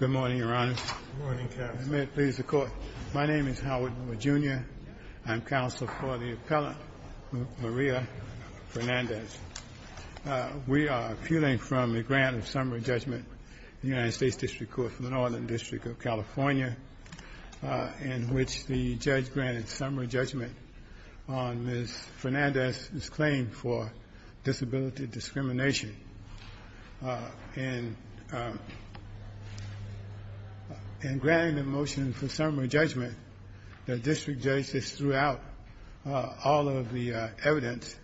Good morning, Your Honor. Good morning, Captain. May it please the Court, my name is Howard Junior. I'm counsel for the appellant, Maria Fernandez. We are appealing from the grant of summary judgment, the United States District Court for the Northern District of California, in which the judge granted summary judgment on Ms. Fernandez's claim for disability discrimination. And in granting the motion for summary judgment, the district judges threw out all of the evidence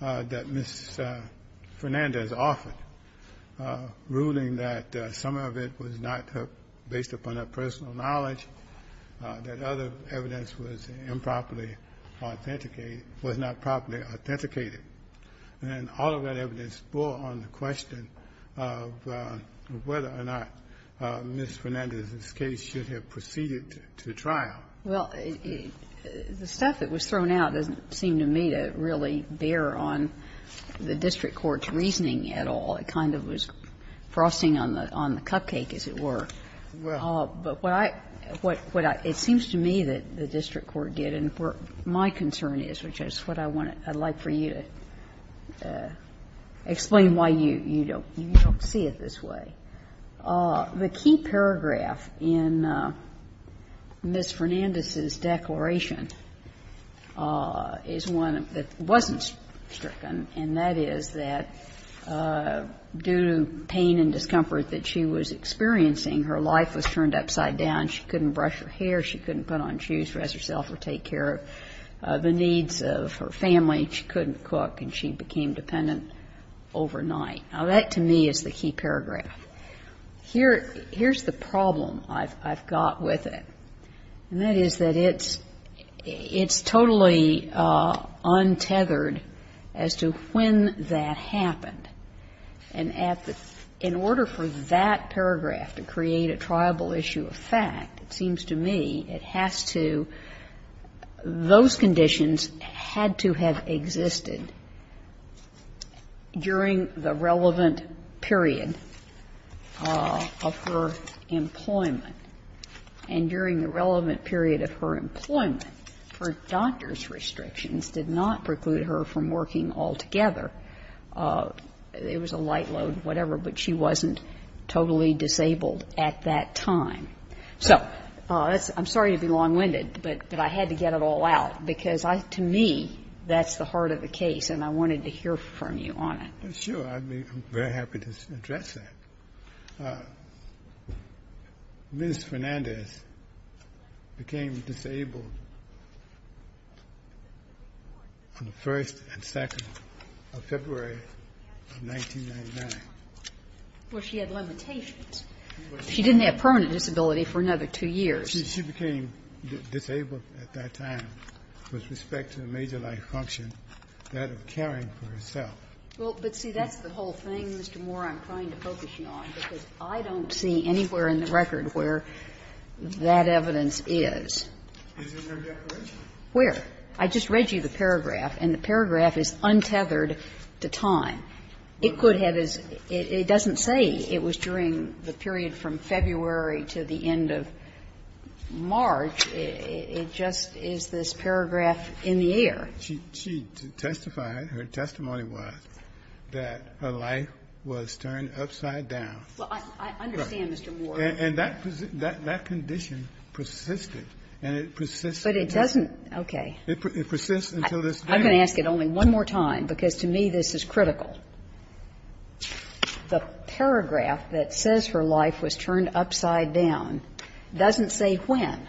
that Ms. Fernandez offered, ruling that some of it was not based upon her personal knowledge, that other evidence was improperly authenticated, was not properly authenticated. And all of that evidence bore on the question of whether or not Ms. Fernandez's case should have proceeded to trial. Well, the stuff that was thrown out doesn't seem to me to really bear on the district court's reasoning at all. It kind of was frosting on the cupcake, as it were. Well. But what I – it seems to me that the district court did, and my concern is, which is what I want to – I'd like for you to explain why you don't see it this way. The key paragraph in Ms. Fernandez's declaration is one that wasn't stricken, and that is that due to pain and discomfort that she was experiencing, her life was turned upside down. She couldn't brush her hair, she couldn't put on shoes, dress herself or take care of the needs of her family, she couldn't cook, and she became dependent overnight. Now, that to me is the key paragraph. Here's the problem I've got with it, and that is that it's totally untethered as to when that happened. And in order for that paragraph to create a triable issue of fact, it seems to me it has to – those conditions had to have existed during the relevant period of her employment. And during the relevant period of her employment, her doctor's restrictions did not preclude her from working altogether. It was a light load, whatever, but she wasn't totally disabled at that time. So that's – I'm sorry to be long-winded, but I had to get it all out because to me that's the heart of the case, and I wanted to hear from you on it. Sure. I'd be very happy to address that. Ms. Fernandez became disabled on the 1st and 2nd of February of 1999. Well, she had limitations. She didn't have permanent disability for another two years. She became disabled at that time with respect to a major life function, that of caring for herself. Well, but see, that's the whole thing, Mr. Moore, I'm trying to focus you on, because I don't see anywhere in the record where that evidence is. Where? I just read you the paragraph, and the paragraph is untethered to time. It doesn't say it was during the period from February to the end of March. It just is this paragraph in the air. She testified, her testimony was, that her life was turned upside down. Well, I understand, Mr. Moore. And that condition persisted, and it persisted. But it doesn't – okay. It persists until this day. I'm going to ask it only one more time, because to me this is critical. The paragraph that says her life was turned upside down doesn't say when.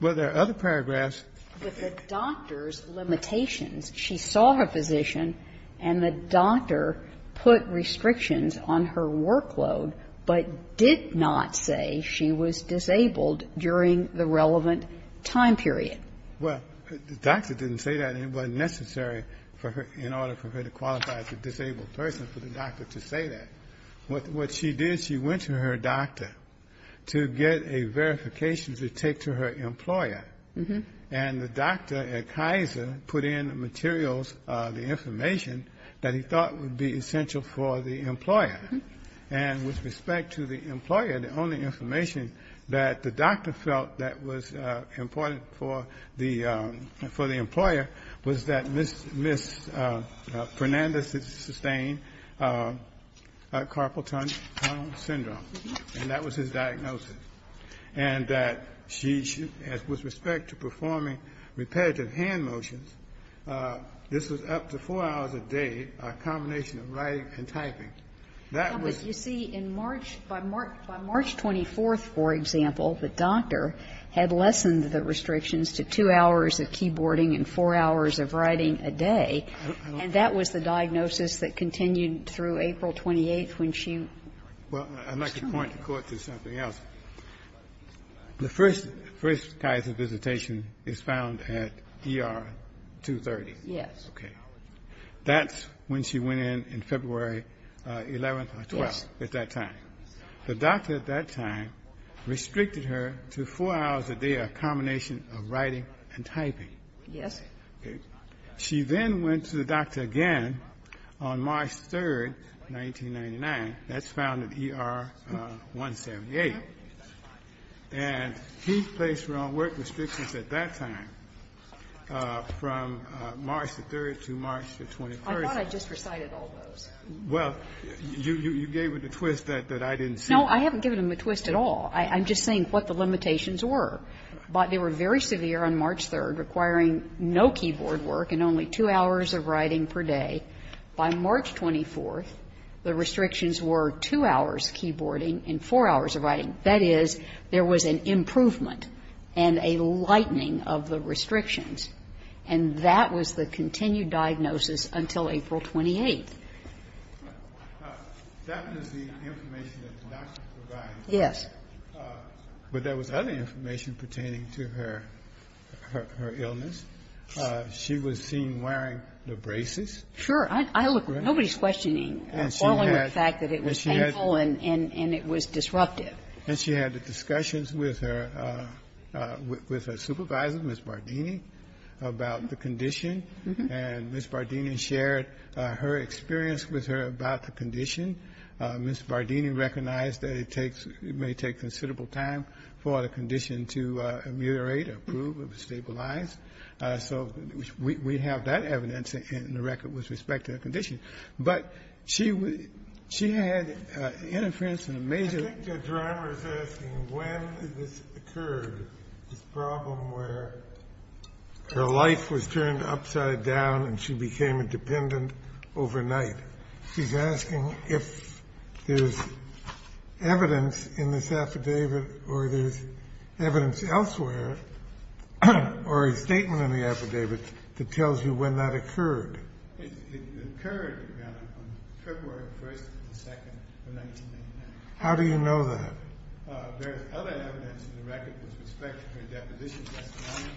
Well, there are other paragraphs. With the doctor's limitations, she saw her physician, and the doctor put restrictions on her workload, but did not say she was disabled during the relevant time period. Well, the doctor didn't say that, and it wasn't necessary for her, in order for her to qualify as a disabled person, for the doctor to say that. What she did, she went to her doctor to get a verification to take to her employer. And the doctor at Kaiser put in the materials, the information, that he thought would be essential for the employer. And with respect to the employer, the only information that the doctor felt that was important for the employer was that Ms. Fernandez sustained carpal tunnel syndrome, and that was his diagnosis. And that she, with respect to performing repetitive hand motions, this was up to four hours a day, a combination of writing and typing. That was ‑‑ had lessened the restrictions to two hours of keyboarding and four hours of writing a day, and that was the diagnosis that continued through April 28th when she was terminated. Well, I'd like to point the Court to something else. The first ‑‑ first Kaiser visitation is found at ER 230. Yes. Okay. That's when she went in, in February 11th or 12th at that time. Yes. The doctor at that time restricted her to four hours a day, a combination of writing and typing. Yes. Okay. She then went to the doctor again on March 3rd, 1999. That's found at ER 178. And he placed her on work restrictions at that time from March the 3rd to March the 23rd. I thought I just recited all those. Well, you gave it a twist that I didn't see. No, I haven't given them a twist at all. I'm just saying what the limitations were. They were very severe on March 3rd, requiring no keyboard work and only two hours of writing per day. By March 24th, the restrictions were two hours keyboarding and four hours of writing. That is, there was an improvement and a lightening of the restrictions, and that was the continued diagnosis until April 28th. That was the information that the doctor provided. Yes. But there was other information pertaining to her illness. She was seen wearing the braces. Sure. I look at it. Nobody's questioning, balling the fact that it was painful and it was disruptive. And she had discussions with her supervisor, Ms. Bardini, about the condition. And Ms. Bardini shared her experience with her about the condition. Ms. Bardini recognized that it takes ñ it may take considerable time for the condition to ameliorate or improve or stabilize. So we have that evidence in the record with respect to the condition. But she had interference in a major ñ Her life was turned upside down and she became a dependent overnight. She's asking if there's evidence in this affidavit or there's evidence elsewhere or a statement in the affidavit that tells you when that occurred. It occurred, Your Honor, on February 1st and 2nd of 1999. How do you know that? There is other evidence in the record with respect to her deposition testimony.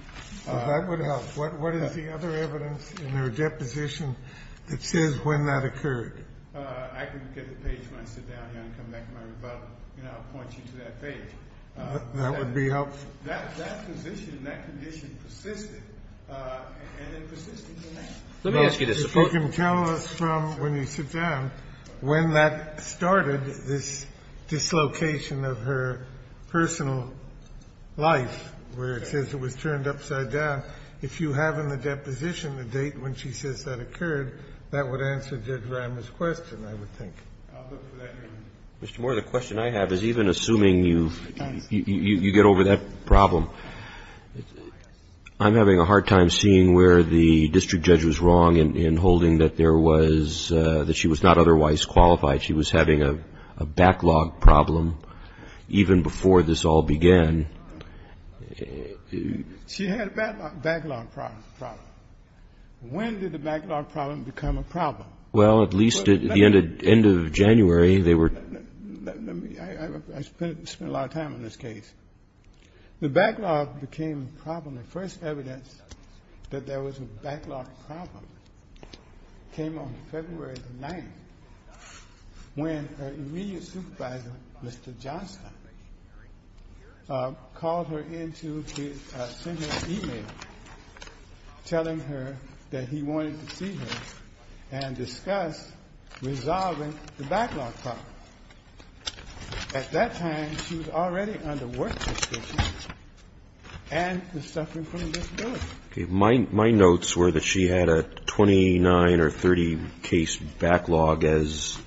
Well, that would help. What is the other evidence in her deposition that says when that occurred? I can get the page when I sit down, Your Honor, and come back to my rebuttal, and I'll point you to that page. That would be helpful. That position, that condition persisted, and it persisted tonight. Let me ask you to support ñ If you can tell us from when you sit down when that started, this dislocation of her personal life, where it says it was turned upside down, if you have in the deposition the date when she says that occurred, that would answer Judge Rimer's question, I would think. Mr. Moore, the question I have is even assuming you get over that problem, I'm having a hard time seeing where the district judge was wrong in holding that there was ñ that she was not otherwise qualified. She was having a backlog problem even before this all began. She had a backlog problem. When did the backlog problem become a problem? Well, at least at the end of January, they were ñ Let me ñ I spent a lot of time on this case. The backlog became a problem. When the first evidence that there was a backlog problem came on February the 9th, when her immediate supervisor, Mr. Johnston, called her in to send her an e-mail telling her that he wanted to see her and discuss resolving the backlog problem. At that time, she was already under work conditions and was suffering from a disability. Okay. My notes were that she had a 29 or 30 case backlog as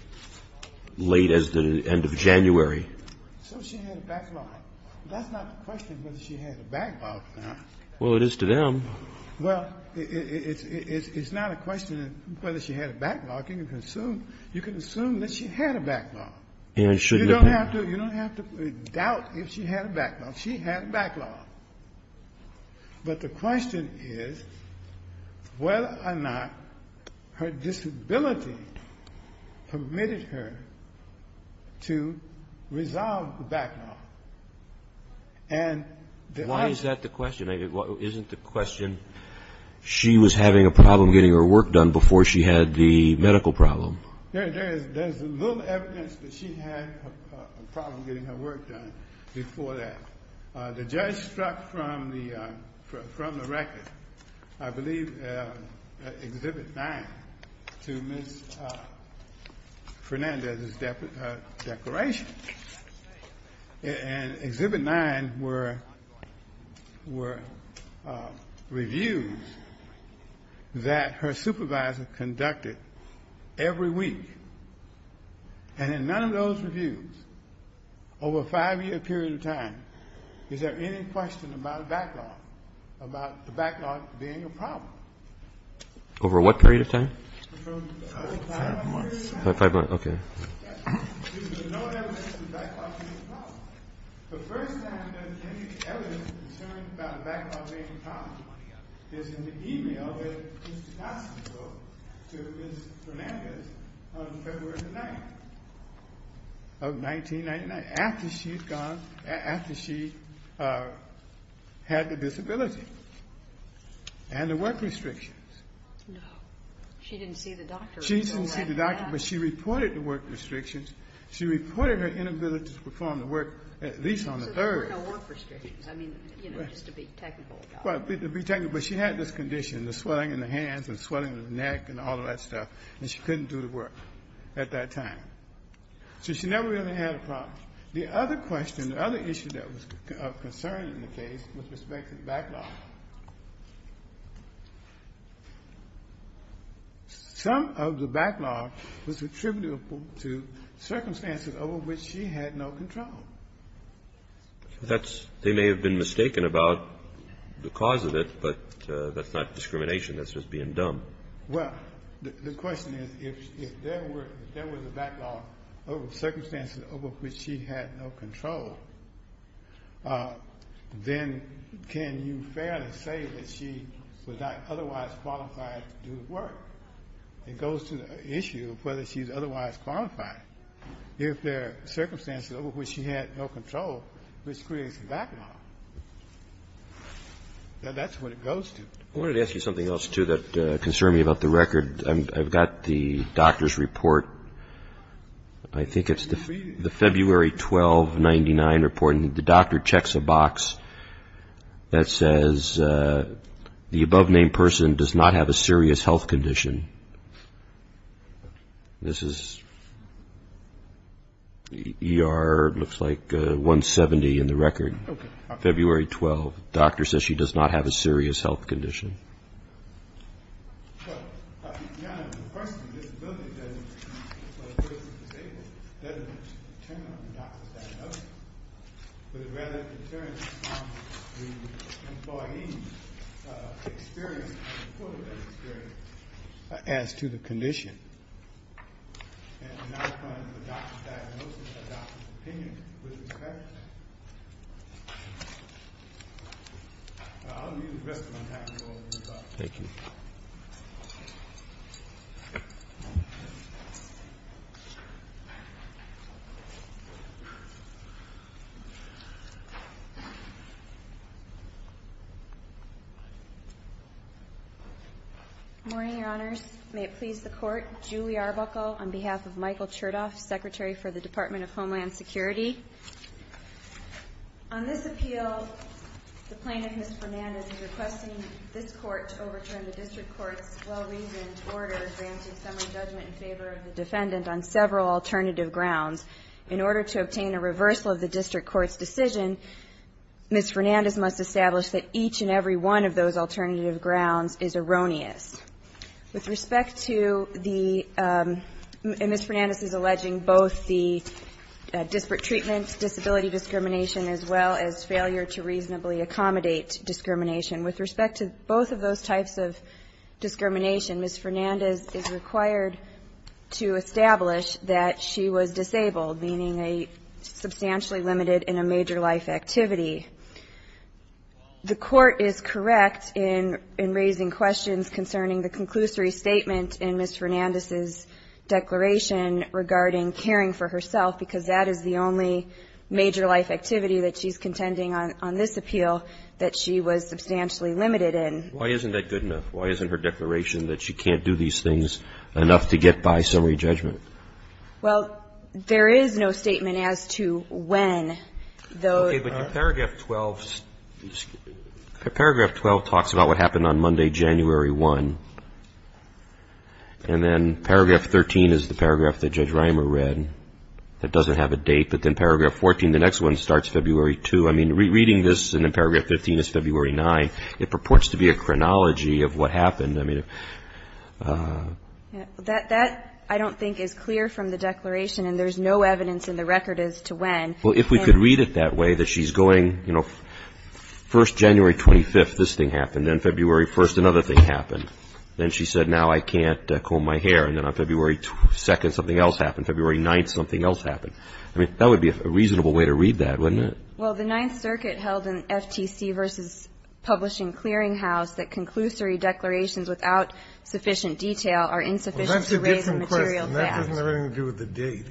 late as the end of January. So she had a backlog. That's not the question whether she had a backlog or not. Well, it is to them. You can assume that she had a backlog. You don't have to doubt if she had a backlog. She had a backlog. But the question is whether or not her disability permitted her to resolve the backlog. And the other ñ Why is that the question? She was having a problem getting her work done before she had the medical problem. There is little evidence that she had a problem getting her work done before that. The judge struck from the record, I believe Exhibit 9, to Ms. Fernandez's declaration. And Exhibit 9 were reviews that her supervisor conducted every week. And in none of those reviews, over a five-year period of time, is there any question about the backlog being a problem? Over what period of time? Five months. Five months. Okay. There was no evidence that the backlog was a problem. The first time there was any evidence concerned about the backlog being a problem is in the e-mail that Mr. Johnson wrote to Ms. Fernandez on February the 9th of 1999, after she had the disability and the work restrictions. No. She didn't see the doctor. She didn't see the doctor, but she reported the work restrictions. She reported her inability to perform the work, at least on the third. So there were no work restrictions. I mean, you know, just to be technical about it. Well, to be technical. But she had this condition, the swelling in the hands and the swelling in the neck and all of that stuff, and she couldn't do the work at that time. So she never really had a problem. The other question, the other issue that was of concern in the case was with respect to the backlog. Some of the backlog was attributable to circumstances over which she had no control. They may have been mistaken about the cause of it, but that's not discrimination. That's just being dumb. Well, the question is, if there was a backlog of circumstances over which she had no control, then can you fairly say that she was not otherwise qualified to do the work? It goes to the issue of whether she's otherwise qualified. If there are circumstances over which she had no control, which creates a backlog, that's what it goes to. I wanted to ask you something else, too, that concerned me about the record. I've got the doctor's report. I think it's the February 12, 1999 report, and the doctor checks a box that says, the above-named person does not have a serious health condition. This is ER, looks like 170 in the record, February 12. The doctor says she does not have a serious health condition. Well, to be honest, the person with a disability doesn't determine on the doctor's diagnosis, but it rather determines on the employee's experience as a part of that experience as to the condition. And in that point, the doctor's diagnosis, the doctor's opinion, was correct. I'll leave the rest of my time to the doctor. Thank you. Good morning, Your Honors. May it please the Court. Julie Arbuckle on behalf of Michael Chertoff, Secretary for the Department of Homeland Security. On this appeal, the plaintiff, Ms. Fernandez, is requesting this Court to overturn the district court's well-reasoned order granting summary judgment in favor of the defendant on several alternative grounds. In order to obtain a reversal of the district court's decision, Ms. Fernandez must establish that each and every one of those alternative grounds is erroneous. With respect to the, and Ms. Fernandez is alleging both the disparate treatment disability discrimination as well as failure to reasonably accommodate discrimination. With respect to both of those types of discrimination, Ms. Fernandez is required to establish that she was disabled, meaning substantially limited in a major life activity. The Court is correct in raising questions concerning the conclusory statement in Ms. Fernandez's declaration regarding caring for herself, because that is the only major life activity that she's contending on this appeal that she was substantially limited in. Why isn't that good enough? Why isn't her declaration that she can't do these things enough to get by summary judgment? Well, there is no statement as to when. Okay. But in paragraph 12, paragraph 12 talks about what happened on Monday, January 1. And then paragraph 13 is the paragraph that Judge Reimer read that doesn't have a date. But then paragraph 14, the next one, starts February 2. I mean, reading this, and then paragraph 15 is February 9, it purports to be a chronology of what happened. That I don't think is clear from the declaration, and there's no evidence in the record as to when. Well, if we could read it that way, that she's going, you know, 1st, January 25th, this thing happened. Then February 1st, another thing happened. Then she said, now I can't comb my hair. And then on February 2nd, something else happened. February 9th, something else happened. I mean, that would be a reasonable way to read that, wouldn't it? Well, the Ninth Circuit held in FTC v. Publishing Clearinghouse that conclusory declarations without sufficient detail are insufficient to raise the material fact. Well, that's a different question. That doesn't have anything to do with the date.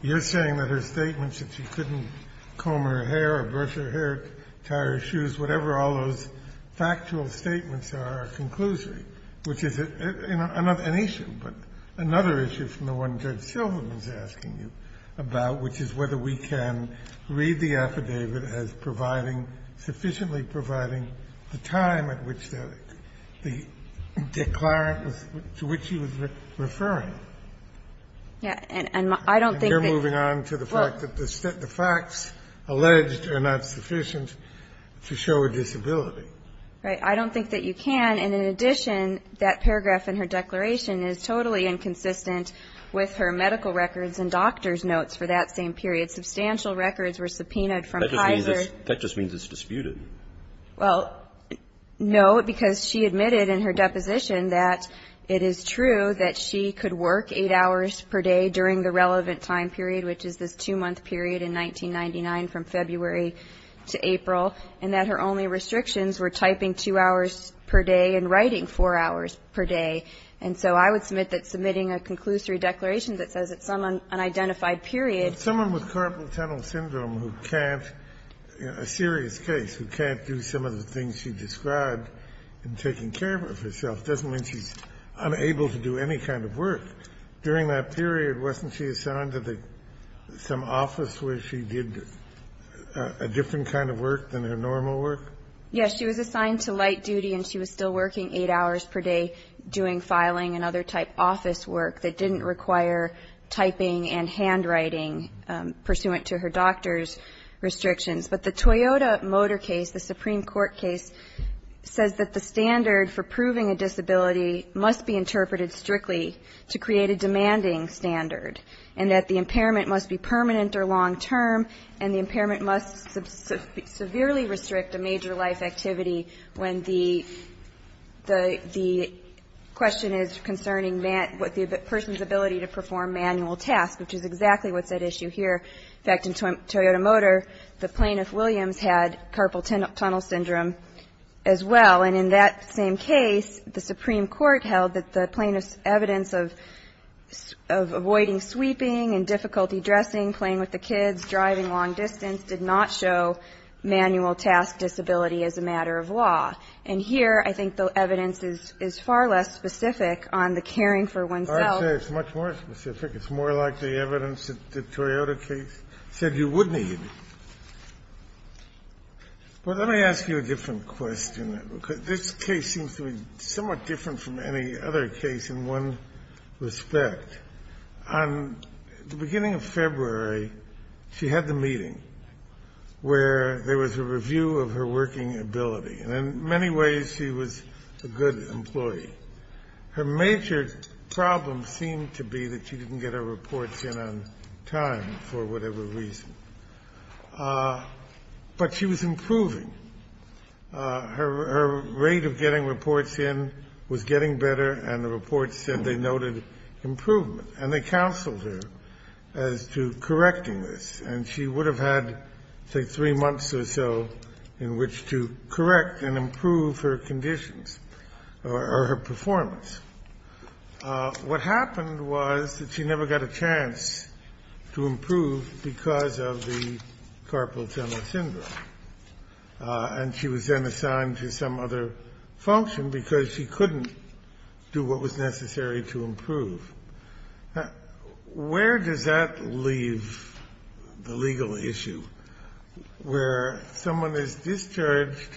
You're saying that her statements that she couldn't comb her hair or brush her hair, tie her shoes, whatever all those factual statements are, are conclusive, which is an issue. But another issue from the one Judge Silverman is asking you about, which is whether we can read the affidavit as providing, sufficiently providing the time at which the declarant to which she was referring. And I don't think that you can. You're moving on to the fact that the facts alleged are not sufficient to show a disability. Right. I don't think that you can. And in addition, that paragraph in her declaration is totally inconsistent with her medical records and doctor's notes for that same period. Substantial records were subpoenaed from Kaiser. That just means it's disputed. Well, no, because she admitted in her deposition that it is true that she could work 8 hours per day during the relevant time period, which is this 2-month period in 1999 from February to April, and that her only restrictions were typing 2 hours per day and writing 4 hours per day. And so I would submit that submitting a conclusory declaration that says it's some unidentified period. Someone with carpal tunnel syndrome who can't, a serious case, who can't do some of the things she described in taking care of herself doesn't mean she's unable to do any kind of work. During that period, wasn't she assigned to some office where she did a different kind of work than her normal work? Yes. She was assigned to light duty and she was still working 8 hours per day doing filing and other type office work that didn't require typing and handwriting pursuant to her doctor's restrictions. But the Toyota Motor case, the Supreme Court case, says that the standard for proving a disability must be interpreted strictly to create a demanding standard, and that the impairment must be permanent or long-term, and the impairment must severely restrict a major life activity when the question is concerning the person's ability to perform manual tasks, which is exactly what's at issue here. In fact, in Toyota Motor, the plaintiff, Williams, had carpal tunnel syndrome as well. And in that same case, the Supreme Court held that the plaintiff's evidence of avoiding sweeping and difficulty dressing, playing with the kids, driving long distance did not show manual task disability as a matter of law. And here, I think the evidence is far less specific on the caring for oneself. I would say it's much more specific. It's more like the evidence that the Toyota case said you would need. But let me ask you a different question, because this case seems to be somewhat different from any other case in one respect. On the beginning of February, she had the meeting where there was a review of her working ability. And in many ways, she was a good employee. Her major problem seemed to be that she didn't get her reports in on time for whatever reason. But she was improving. Her rate of getting reports in was getting better, and the report said they noted improvement. And they counseled her as to correcting this. And she would have had, say, three months or so in which to correct and improve her conditions or her performance. What happened was that she never got a chance to improve because of the carpal tunnel syndrome. And she was then assigned to some other function because she couldn't do what was necessary to improve. Where does that leave the legal issue, where someone is discharged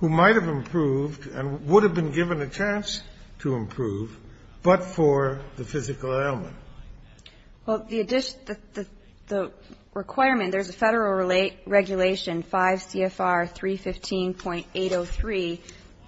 who might have improved and would have been given a chance to improve, but for the physical ailment? Well, the requirement, there's a Federal regulation, 5 CFR 315.803,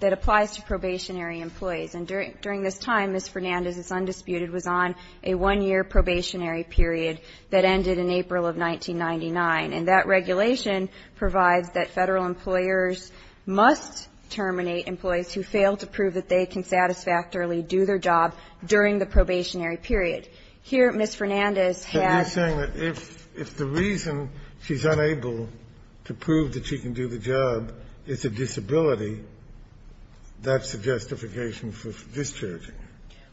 that applies to probationary employees. And during this time, Ms. Fernandez, it's undisputed, was on a one-year probationary period that ended in April of 1999. And that regulation provides that Federal employers must terminate employees who fail to prove that they can satisfactorily do their job during the probationary period. Here, Ms. Fernandez has to prove that she can do the job. It's a disability. That's a justification for discharging her.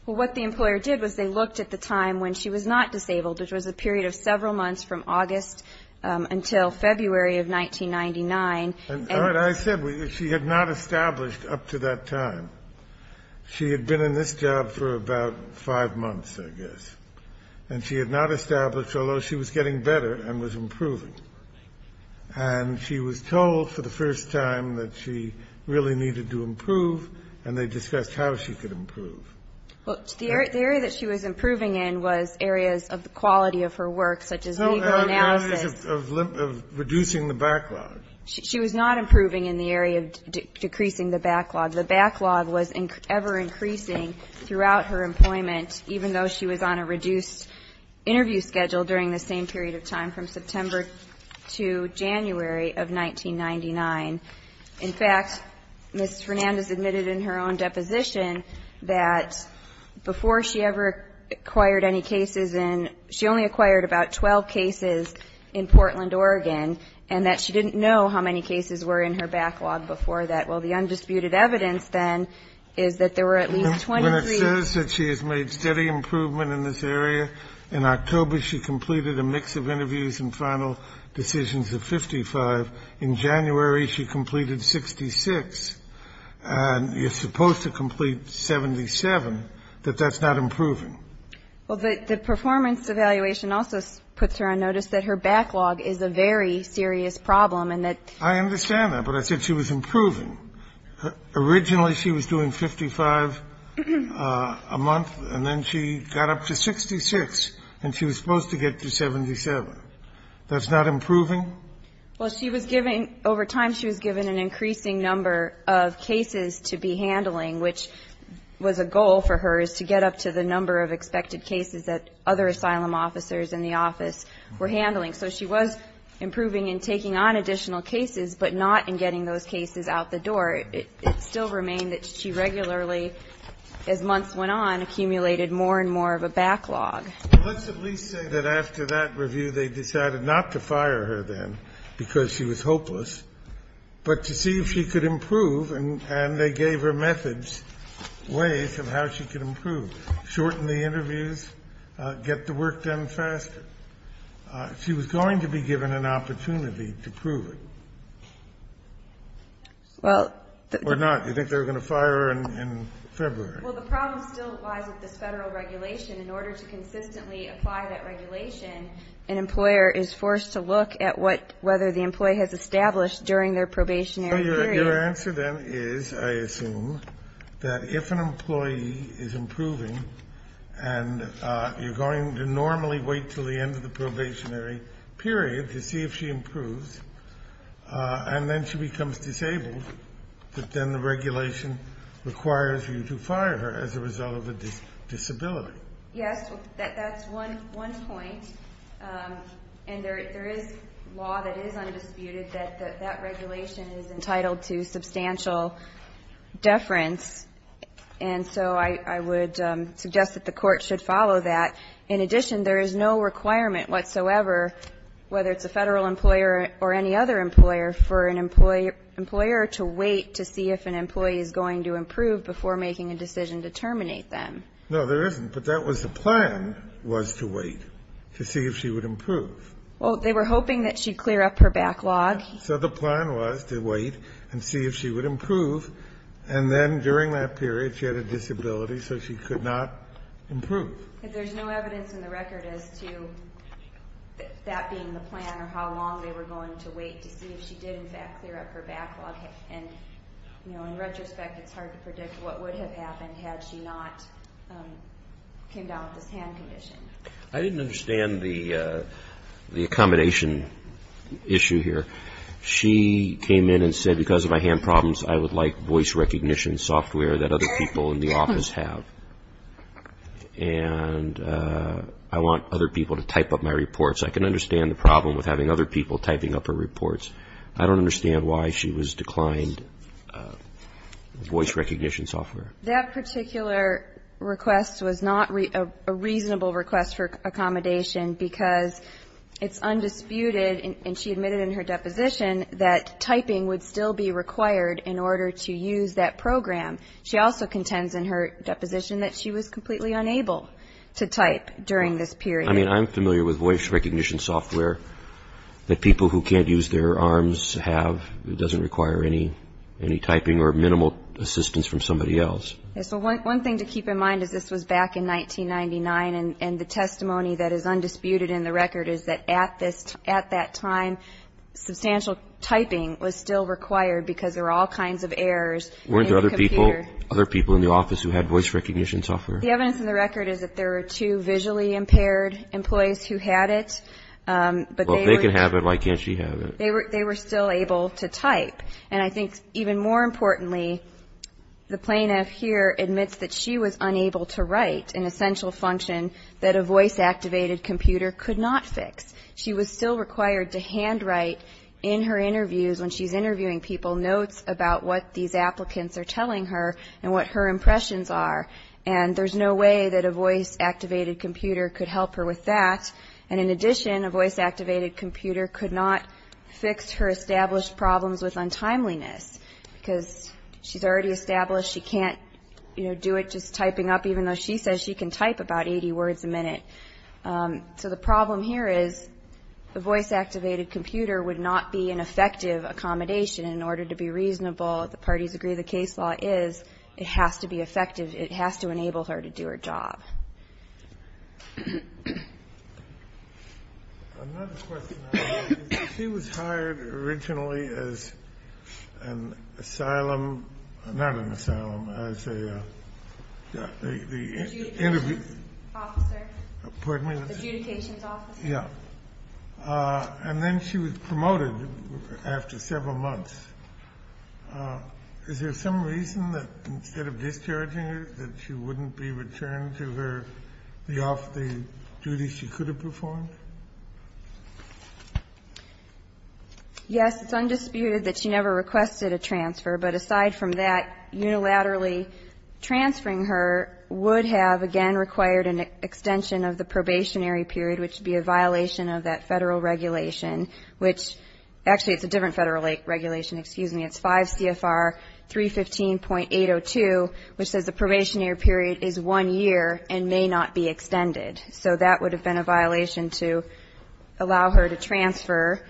Well, what the employer did was they looked at the time when she was not disabled, which was a period of several months from August until February of 1999. And I said she had not established up to that time. She had been in this job for about five months, I guess. And she had not established, although she was getting better and was improving. And she was told for the first time that she really needed to improve, and they discussed how she could improve. Well, the area that she was improving in was areas of the quality of her work, such as legal analysis. No, areas of reducing the backlog. She was not improving in the area of decreasing the backlog. The backlog was ever-increasing throughout her employment, even though she was on a reduced interview schedule during the same period of time from September to January of 1999. In fact, Ms. Fernandez admitted in her own deposition that before she ever acquired any cases in ñ she only acquired about 12 cases in Portland, Oregon, and that she didn't know how many cases were in her backlog before that. Well, the undisputed evidence, then, is that there were at least 23. She says that she has made steady improvement in this area. In October, she completed a mix of interviews and final decisions of 55. In January, she completed 66. And you're supposed to complete 77, but that's not improving. Well, the performance evaluation also puts her on notice that her backlog is a very serious problem and that ñ I understand that, but I said she was improving. Originally, she was doing 55 a month, and then she got up to 66, and she was supposed to get to 77. That's not improving? Well, she was giving ñ over time, she was given an increasing number of cases to be handling, which was a goal for her is to get up to the number of expected cases that other asylum officers in the office were handling. So she was improving and taking on additional cases, but not in getting those cases out the door. It still remained that she regularly, as months went on, accumulated more and more of a backlog. Well, let's at least say that after that review, they decided not to fire her then because she was hopeless, but to see if she could improve. And they gave her methods, ways of how she could improve, shorten the interviews, get the work done faster. She was going to be given an opportunity to prove it. Well ñ Or not. You think they were going to fire her in February? Well, the problem still lies with this Federal regulation. In order to consistently apply that regulation, an employer is forced to look at what ñ whether the employee has established during their probationary period. So your answer, then, is, I assume, that if an employee is improving and you're going to normally wait until the end of the probationary period to see if she improves, and then she becomes disabled, that then the regulation requires you to fire her as a result of a disability. Yes. That's one point. And there is law that is undisputed that that regulation is entitled to substantial deference. And so I would suggest that the Court should follow that. In addition, there is no requirement whatsoever, whether it's a Federal employer or any other employer, for an employer to wait to see if an employee is going to improve before making a decision to terminate them. No, there isn't. But that was the plan, was to wait to see if she would improve. Well, they were hoping that she'd clear up her backlog. So the plan was to wait and see if she would improve. And then during that period, she had a disability, so she could not improve. But there's no evidence in the record as to that being the plan or how long they were going to wait to see if she did, in fact, clear up her backlog. And, you know, in retrospect, it's hard to predict what would have happened had she not came down with this hand condition. I didn't understand the accommodation issue here. She came in and said, because of my hand problems, I would like voice recognition software that other people in the office have. And I want other people to type up my reports. I can understand the problem with having other people typing up her reports. I don't understand why she was declined voice recognition software. That particular request was not a reasonable request for accommodation because it's undisputed, and she admitted in her deposition, that typing would still be required in order to use that program. She also contends in her deposition that she was completely unable to type during this period. I mean, I'm familiar with voice recognition software that people who can't use their arms have. It doesn't require any typing or minimal assistance from somebody else. So one thing to keep in mind is this was back in 1999, and the testimony that is undisputed in the record is that there were two visually impaired employees who had it. But they were still able to type. And I think even more importantly, the plaintiff here admits that she was unable to write an essential function that a voice-activated computer could not fix. She was still required to handwrite in her interviews, when she's interviewing people, notes about what these applicants are telling her and what her impressions are. And there's no way that a voice-activated computer could help her with that. And in addition, a voice-activated computer could not fix her established problems with untimeliness, because she's already established she can't, you know, do it just typing up, even though she says she can type about 80 words a minute. So the problem here is the voice-activated computer would not be an effective accommodation in order to be reasonable. The parties agree the case law is. It has to be effective. It has to enable her to do her job. Another question. She was hired originally as an asylum, not an asylum, as a interview. Pardon me. Yeah. And then she was promoted after several months. Is there some reason that instead of discharging her, that she wouldn't be returned to her, the duties she could have performed? Yes. It's undisputed that she never requested a transfer. But aside from that, unilaterally transferring her would have, again, required an extension of the probationary period, which would be a violation of that Federal regulation, which actually it's a different Federal regulation, excuse me. It's 5 CFR 315.802, which says the probationary period is one year and may not be extended. So that would have been a violation to allow her to transfer.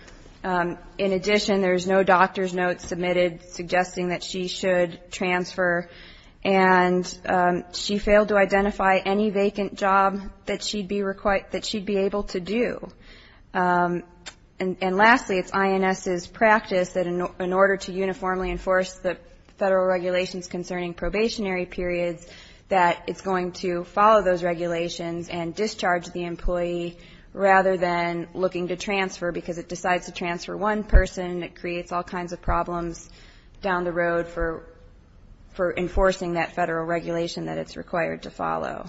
In addition, there's no doctor's notes submitted suggesting that she should transfer. And she failed to identify any vacant job that she'd be able to do. And lastly, it's INS's practice that in order to uniformly enforce the Federal regulations concerning probationary periods, that it's going to follow those regulations and discharge the employee rather than looking to transfer, because it decides to transfer one person. It creates all kinds of problems down the road for enforcing that Federal regulation that it's required to follow.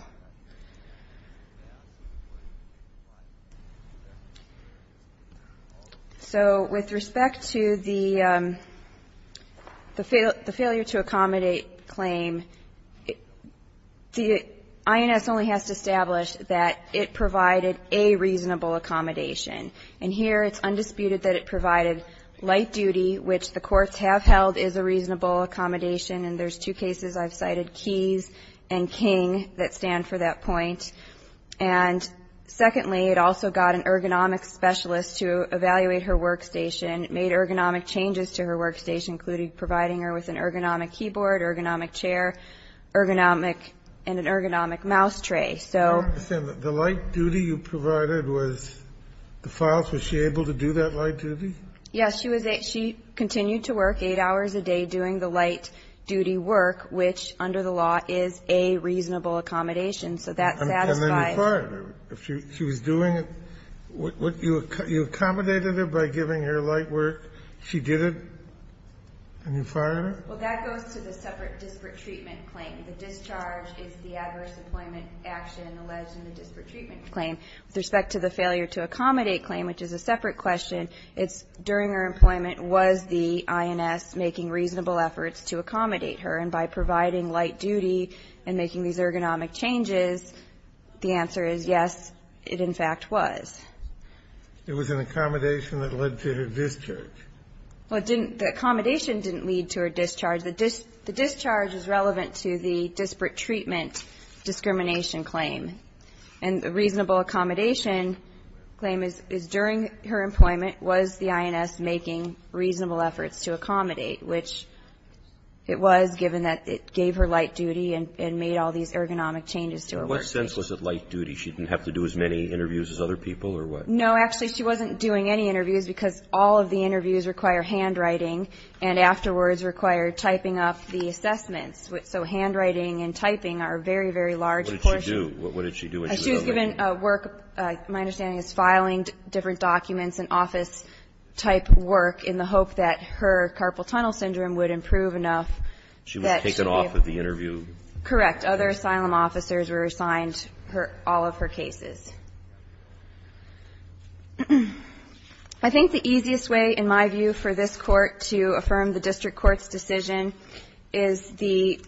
So with respect to the failure to accommodate claim, INS only has to establish that it provided a reasonable accommodation. And here it's undisputed that it provided light duty, which the courts have held is a reasonable accommodation. And there's two cases I've cited, Keyes and King, that stand for that point. And secondly, it also got an ergonomics specialist to evaluate her workstation, made ergonomic changes to her workstation, including providing her with an ergonomic keyboard, ergonomic chair, and an ergonomic mouse tray. So the light duty you provided was the files. Was she able to do that light duty? Yes. She continued to work eight hours a day doing the light duty work, which under the law is a reasonable accommodation. So that satisfies. And then you fired her. She was doing it. You accommodated her by giving her light work. She did it, and you fired her? Well, that goes to the separate disparate treatment claim. The discharge is the adverse employment action alleged in the disparate treatment claim. With respect to the failure to accommodate claim, which is a separate question, it's during her employment was the INS making reasonable efforts to accommodate her, and by providing light duty and making these ergonomic changes, the answer is yes, it in fact was. It was an accommodation that led to her discharge. Well, the accommodation didn't lead to her discharge. The discharge is relevant to the disparate treatment discrimination claim. And the reasonable accommodation claim is during her employment was the INS making reasonable efforts to accommodate, which it was given that it gave her light duty and made all these ergonomic changes to her work. In what sense was it light duty? She didn't have to do as many interviews as other people or what? No. Actually, she wasn't doing any interviews, because all of the interviews require handwriting, and afterwards require typing up the assessments. So handwriting and typing are very, very large portions. What did she do? What did she do when she was unemployed? She was given work, my understanding is filing different documents and office-type work in the hope that her carpal tunnel syndrome would improve enough that she would be able to. She was taken off of the interview. Correct. Other asylum officers were assigned all of her cases. I think the easiest way, in my view, for this Court to affirm the district court's decision is the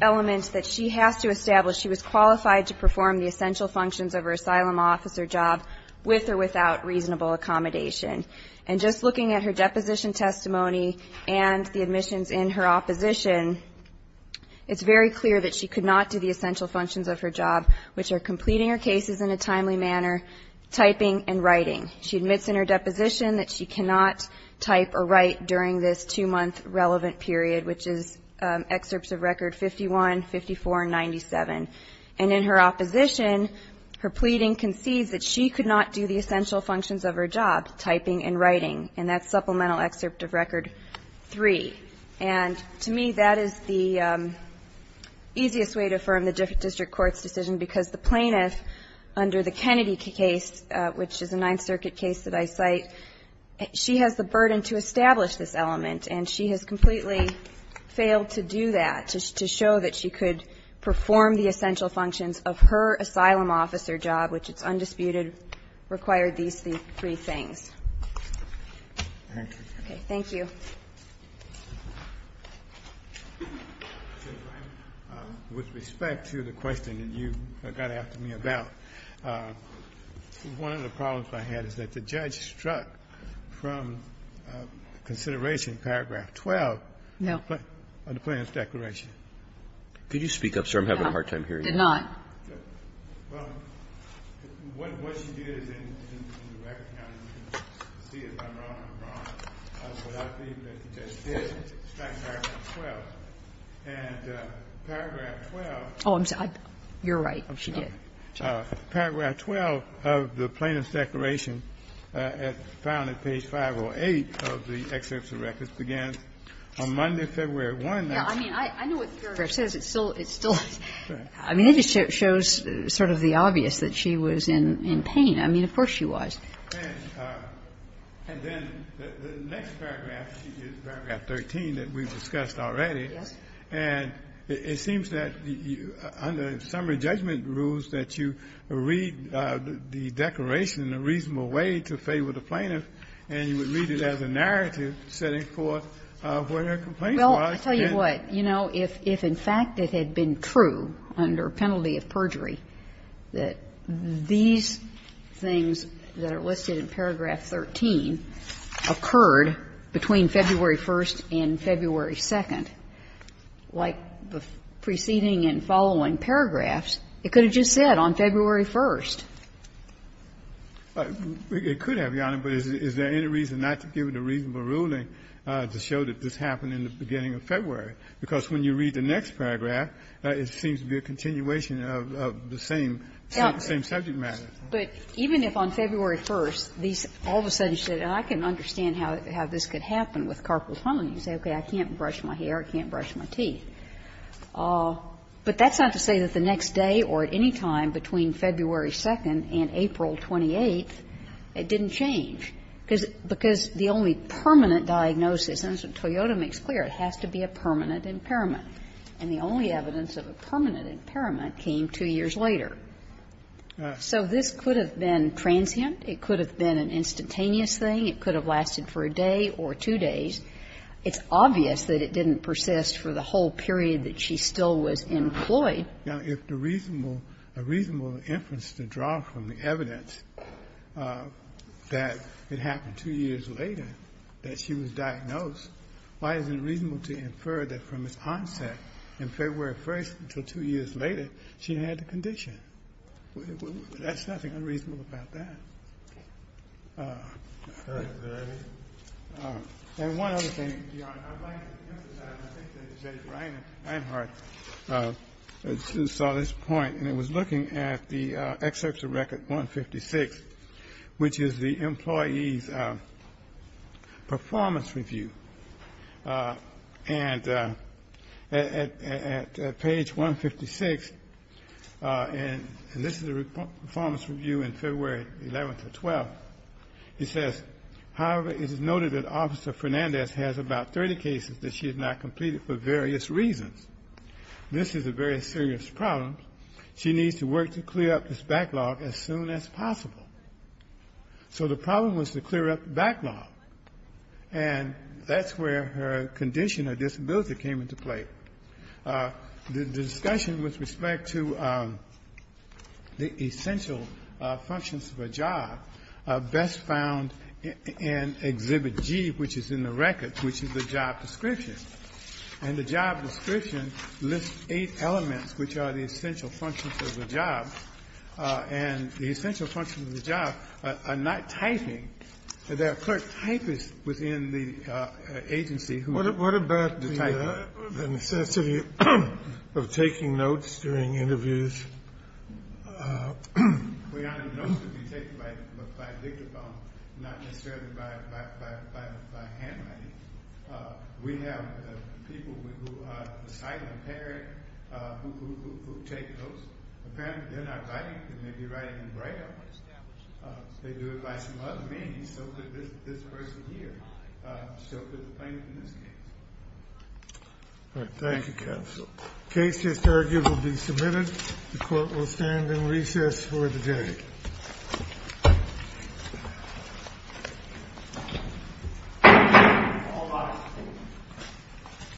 element that she has to establish she was qualified to perform the essential functions of her asylum officer job with or without reasonable accommodation. And just looking at her deposition testimony and the admissions in her opposition, it's very clear that she could not do the essential functions of her job, which are completing her cases in a timely manner, typing, and writing. She admits in her deposition that she cannot type or write during this two-month relevant period, which is excerpts of record 51, 54, and 97. And in her opposition, her pleading concedes that she could not do the essential functions of her job, typing and writing. And that's supplemental excerpt of record 3. And to me, that is the easiest way to affirm the district court's decision because the plaintiff, under the Kennedy case, which is a Ninth Circuit case that I cite, she has the burden to establish this element. And she has completely failed to do that, to show that she could perform the essential functions of her asylum officer job, which it's undisputed required these three things. Okay. Thank you. Ginsburg. With respect to the question that you got after me about, one of the problems I had is that the judge struck from consideration paragraph 12 of the plaintiff's declaration. No. Could you speak up, sir? I'm having a hard time hearing you. No, I did not. Well, what she did is, in the record counting, you can see if I'm wrong or not, but I believe that the judge did strike paragraph 12. And paragraph 12. Oh, I'm sorry. You're right. She did. Paragraph 12 of the plaintiff's declaration, found at page 508 of the excerpts of records, began on Monday, February 1. Yeah, I mean, I know what the paragraph says. It still, it still, I mean, it just shows sort of the obvious that she was in pain. I mean, of course she was. And then the next paragraph, paragraph 13 that we've discussed already. Yes. And it seems that under summary judgment rules that you read the declaration in a reasonable way to favor the plaintiff, and you would read it as a narrative setting forth where her complaint was. Well, I'll tell you what. You know, if in fact it had been true under penalty of perjury that these things that are listed in paragraph 13 occurred between February 1st and February 2nd, like the preceding and following paragraphs, it could have just said, on February 1st. It could have, Your Honor, but is there any reason not to give it a reasonable ruling to show that this happened in the beginning of February, because when you read the next paragraph, it seems to be a continuation of the same subject matter. But even if on February 1st, these all of a sudden said, and I can understand how this could happen with carpal tunneling. You say, okay, I can't brush my hair, I can't brush my teeth. But that's not to say that the next day or at any time between February 2nd and April 28th, it didn't change. Because the only permanent diagnosis, and as Toyota makes clear, it has to be a permanent impairment. And the only evidence of a permanent impairment came two years later. So this could have been transient. It could have been an instantaneous thing. It could have lasted for a day or two days. It's obvious that it didn't persist for the whole period that she still was employed. Now, if the reasonable, a reasonable inference to draw from the evidence that it happened two years later that she was diagnosed, why isn't it reasonable to infer that from its onset in February 1st until two years later, she had the condition? That's nothing unreasonable about that. And one other thing, Your Honor, I'd like to emphasize, and I think that Judge Reinhardt saw this point, and it was looking at the excerpts of Record 156, which is the employee's performance review. And at page 156, and this is the performance review in February 11th to 12th, it says, however, it is noted that Officer Fernandez has about 30 cases that she has not completed for various reasons. This is a very serious problem. She needs to work to clear up this backlog as soon as possible. So the problem was to clear up the backlog. And that's where her condition or disability came into play. The discussion with respect to the essential functions of a job best found in Exhibit G, which is in the record, which is the job description. And the job description lists eight elements which are the essential functions of the job. And the essential functions of the job are not typing. There are clerk typists within the agency who type. What about the necessity of taking notes during interviews? Well, Your Honor, notes can be taken by dictaphone, not necessarily by handwriting. We have people who are sight impaired who take notes. Apparently, they're not writing, they may be writing in Braille. They do it by some other means, so could this person here, so could the plaintiff in this case. Thank you, counsel. Case just argued will be submitted. The court will stand in recess for the day. All rise.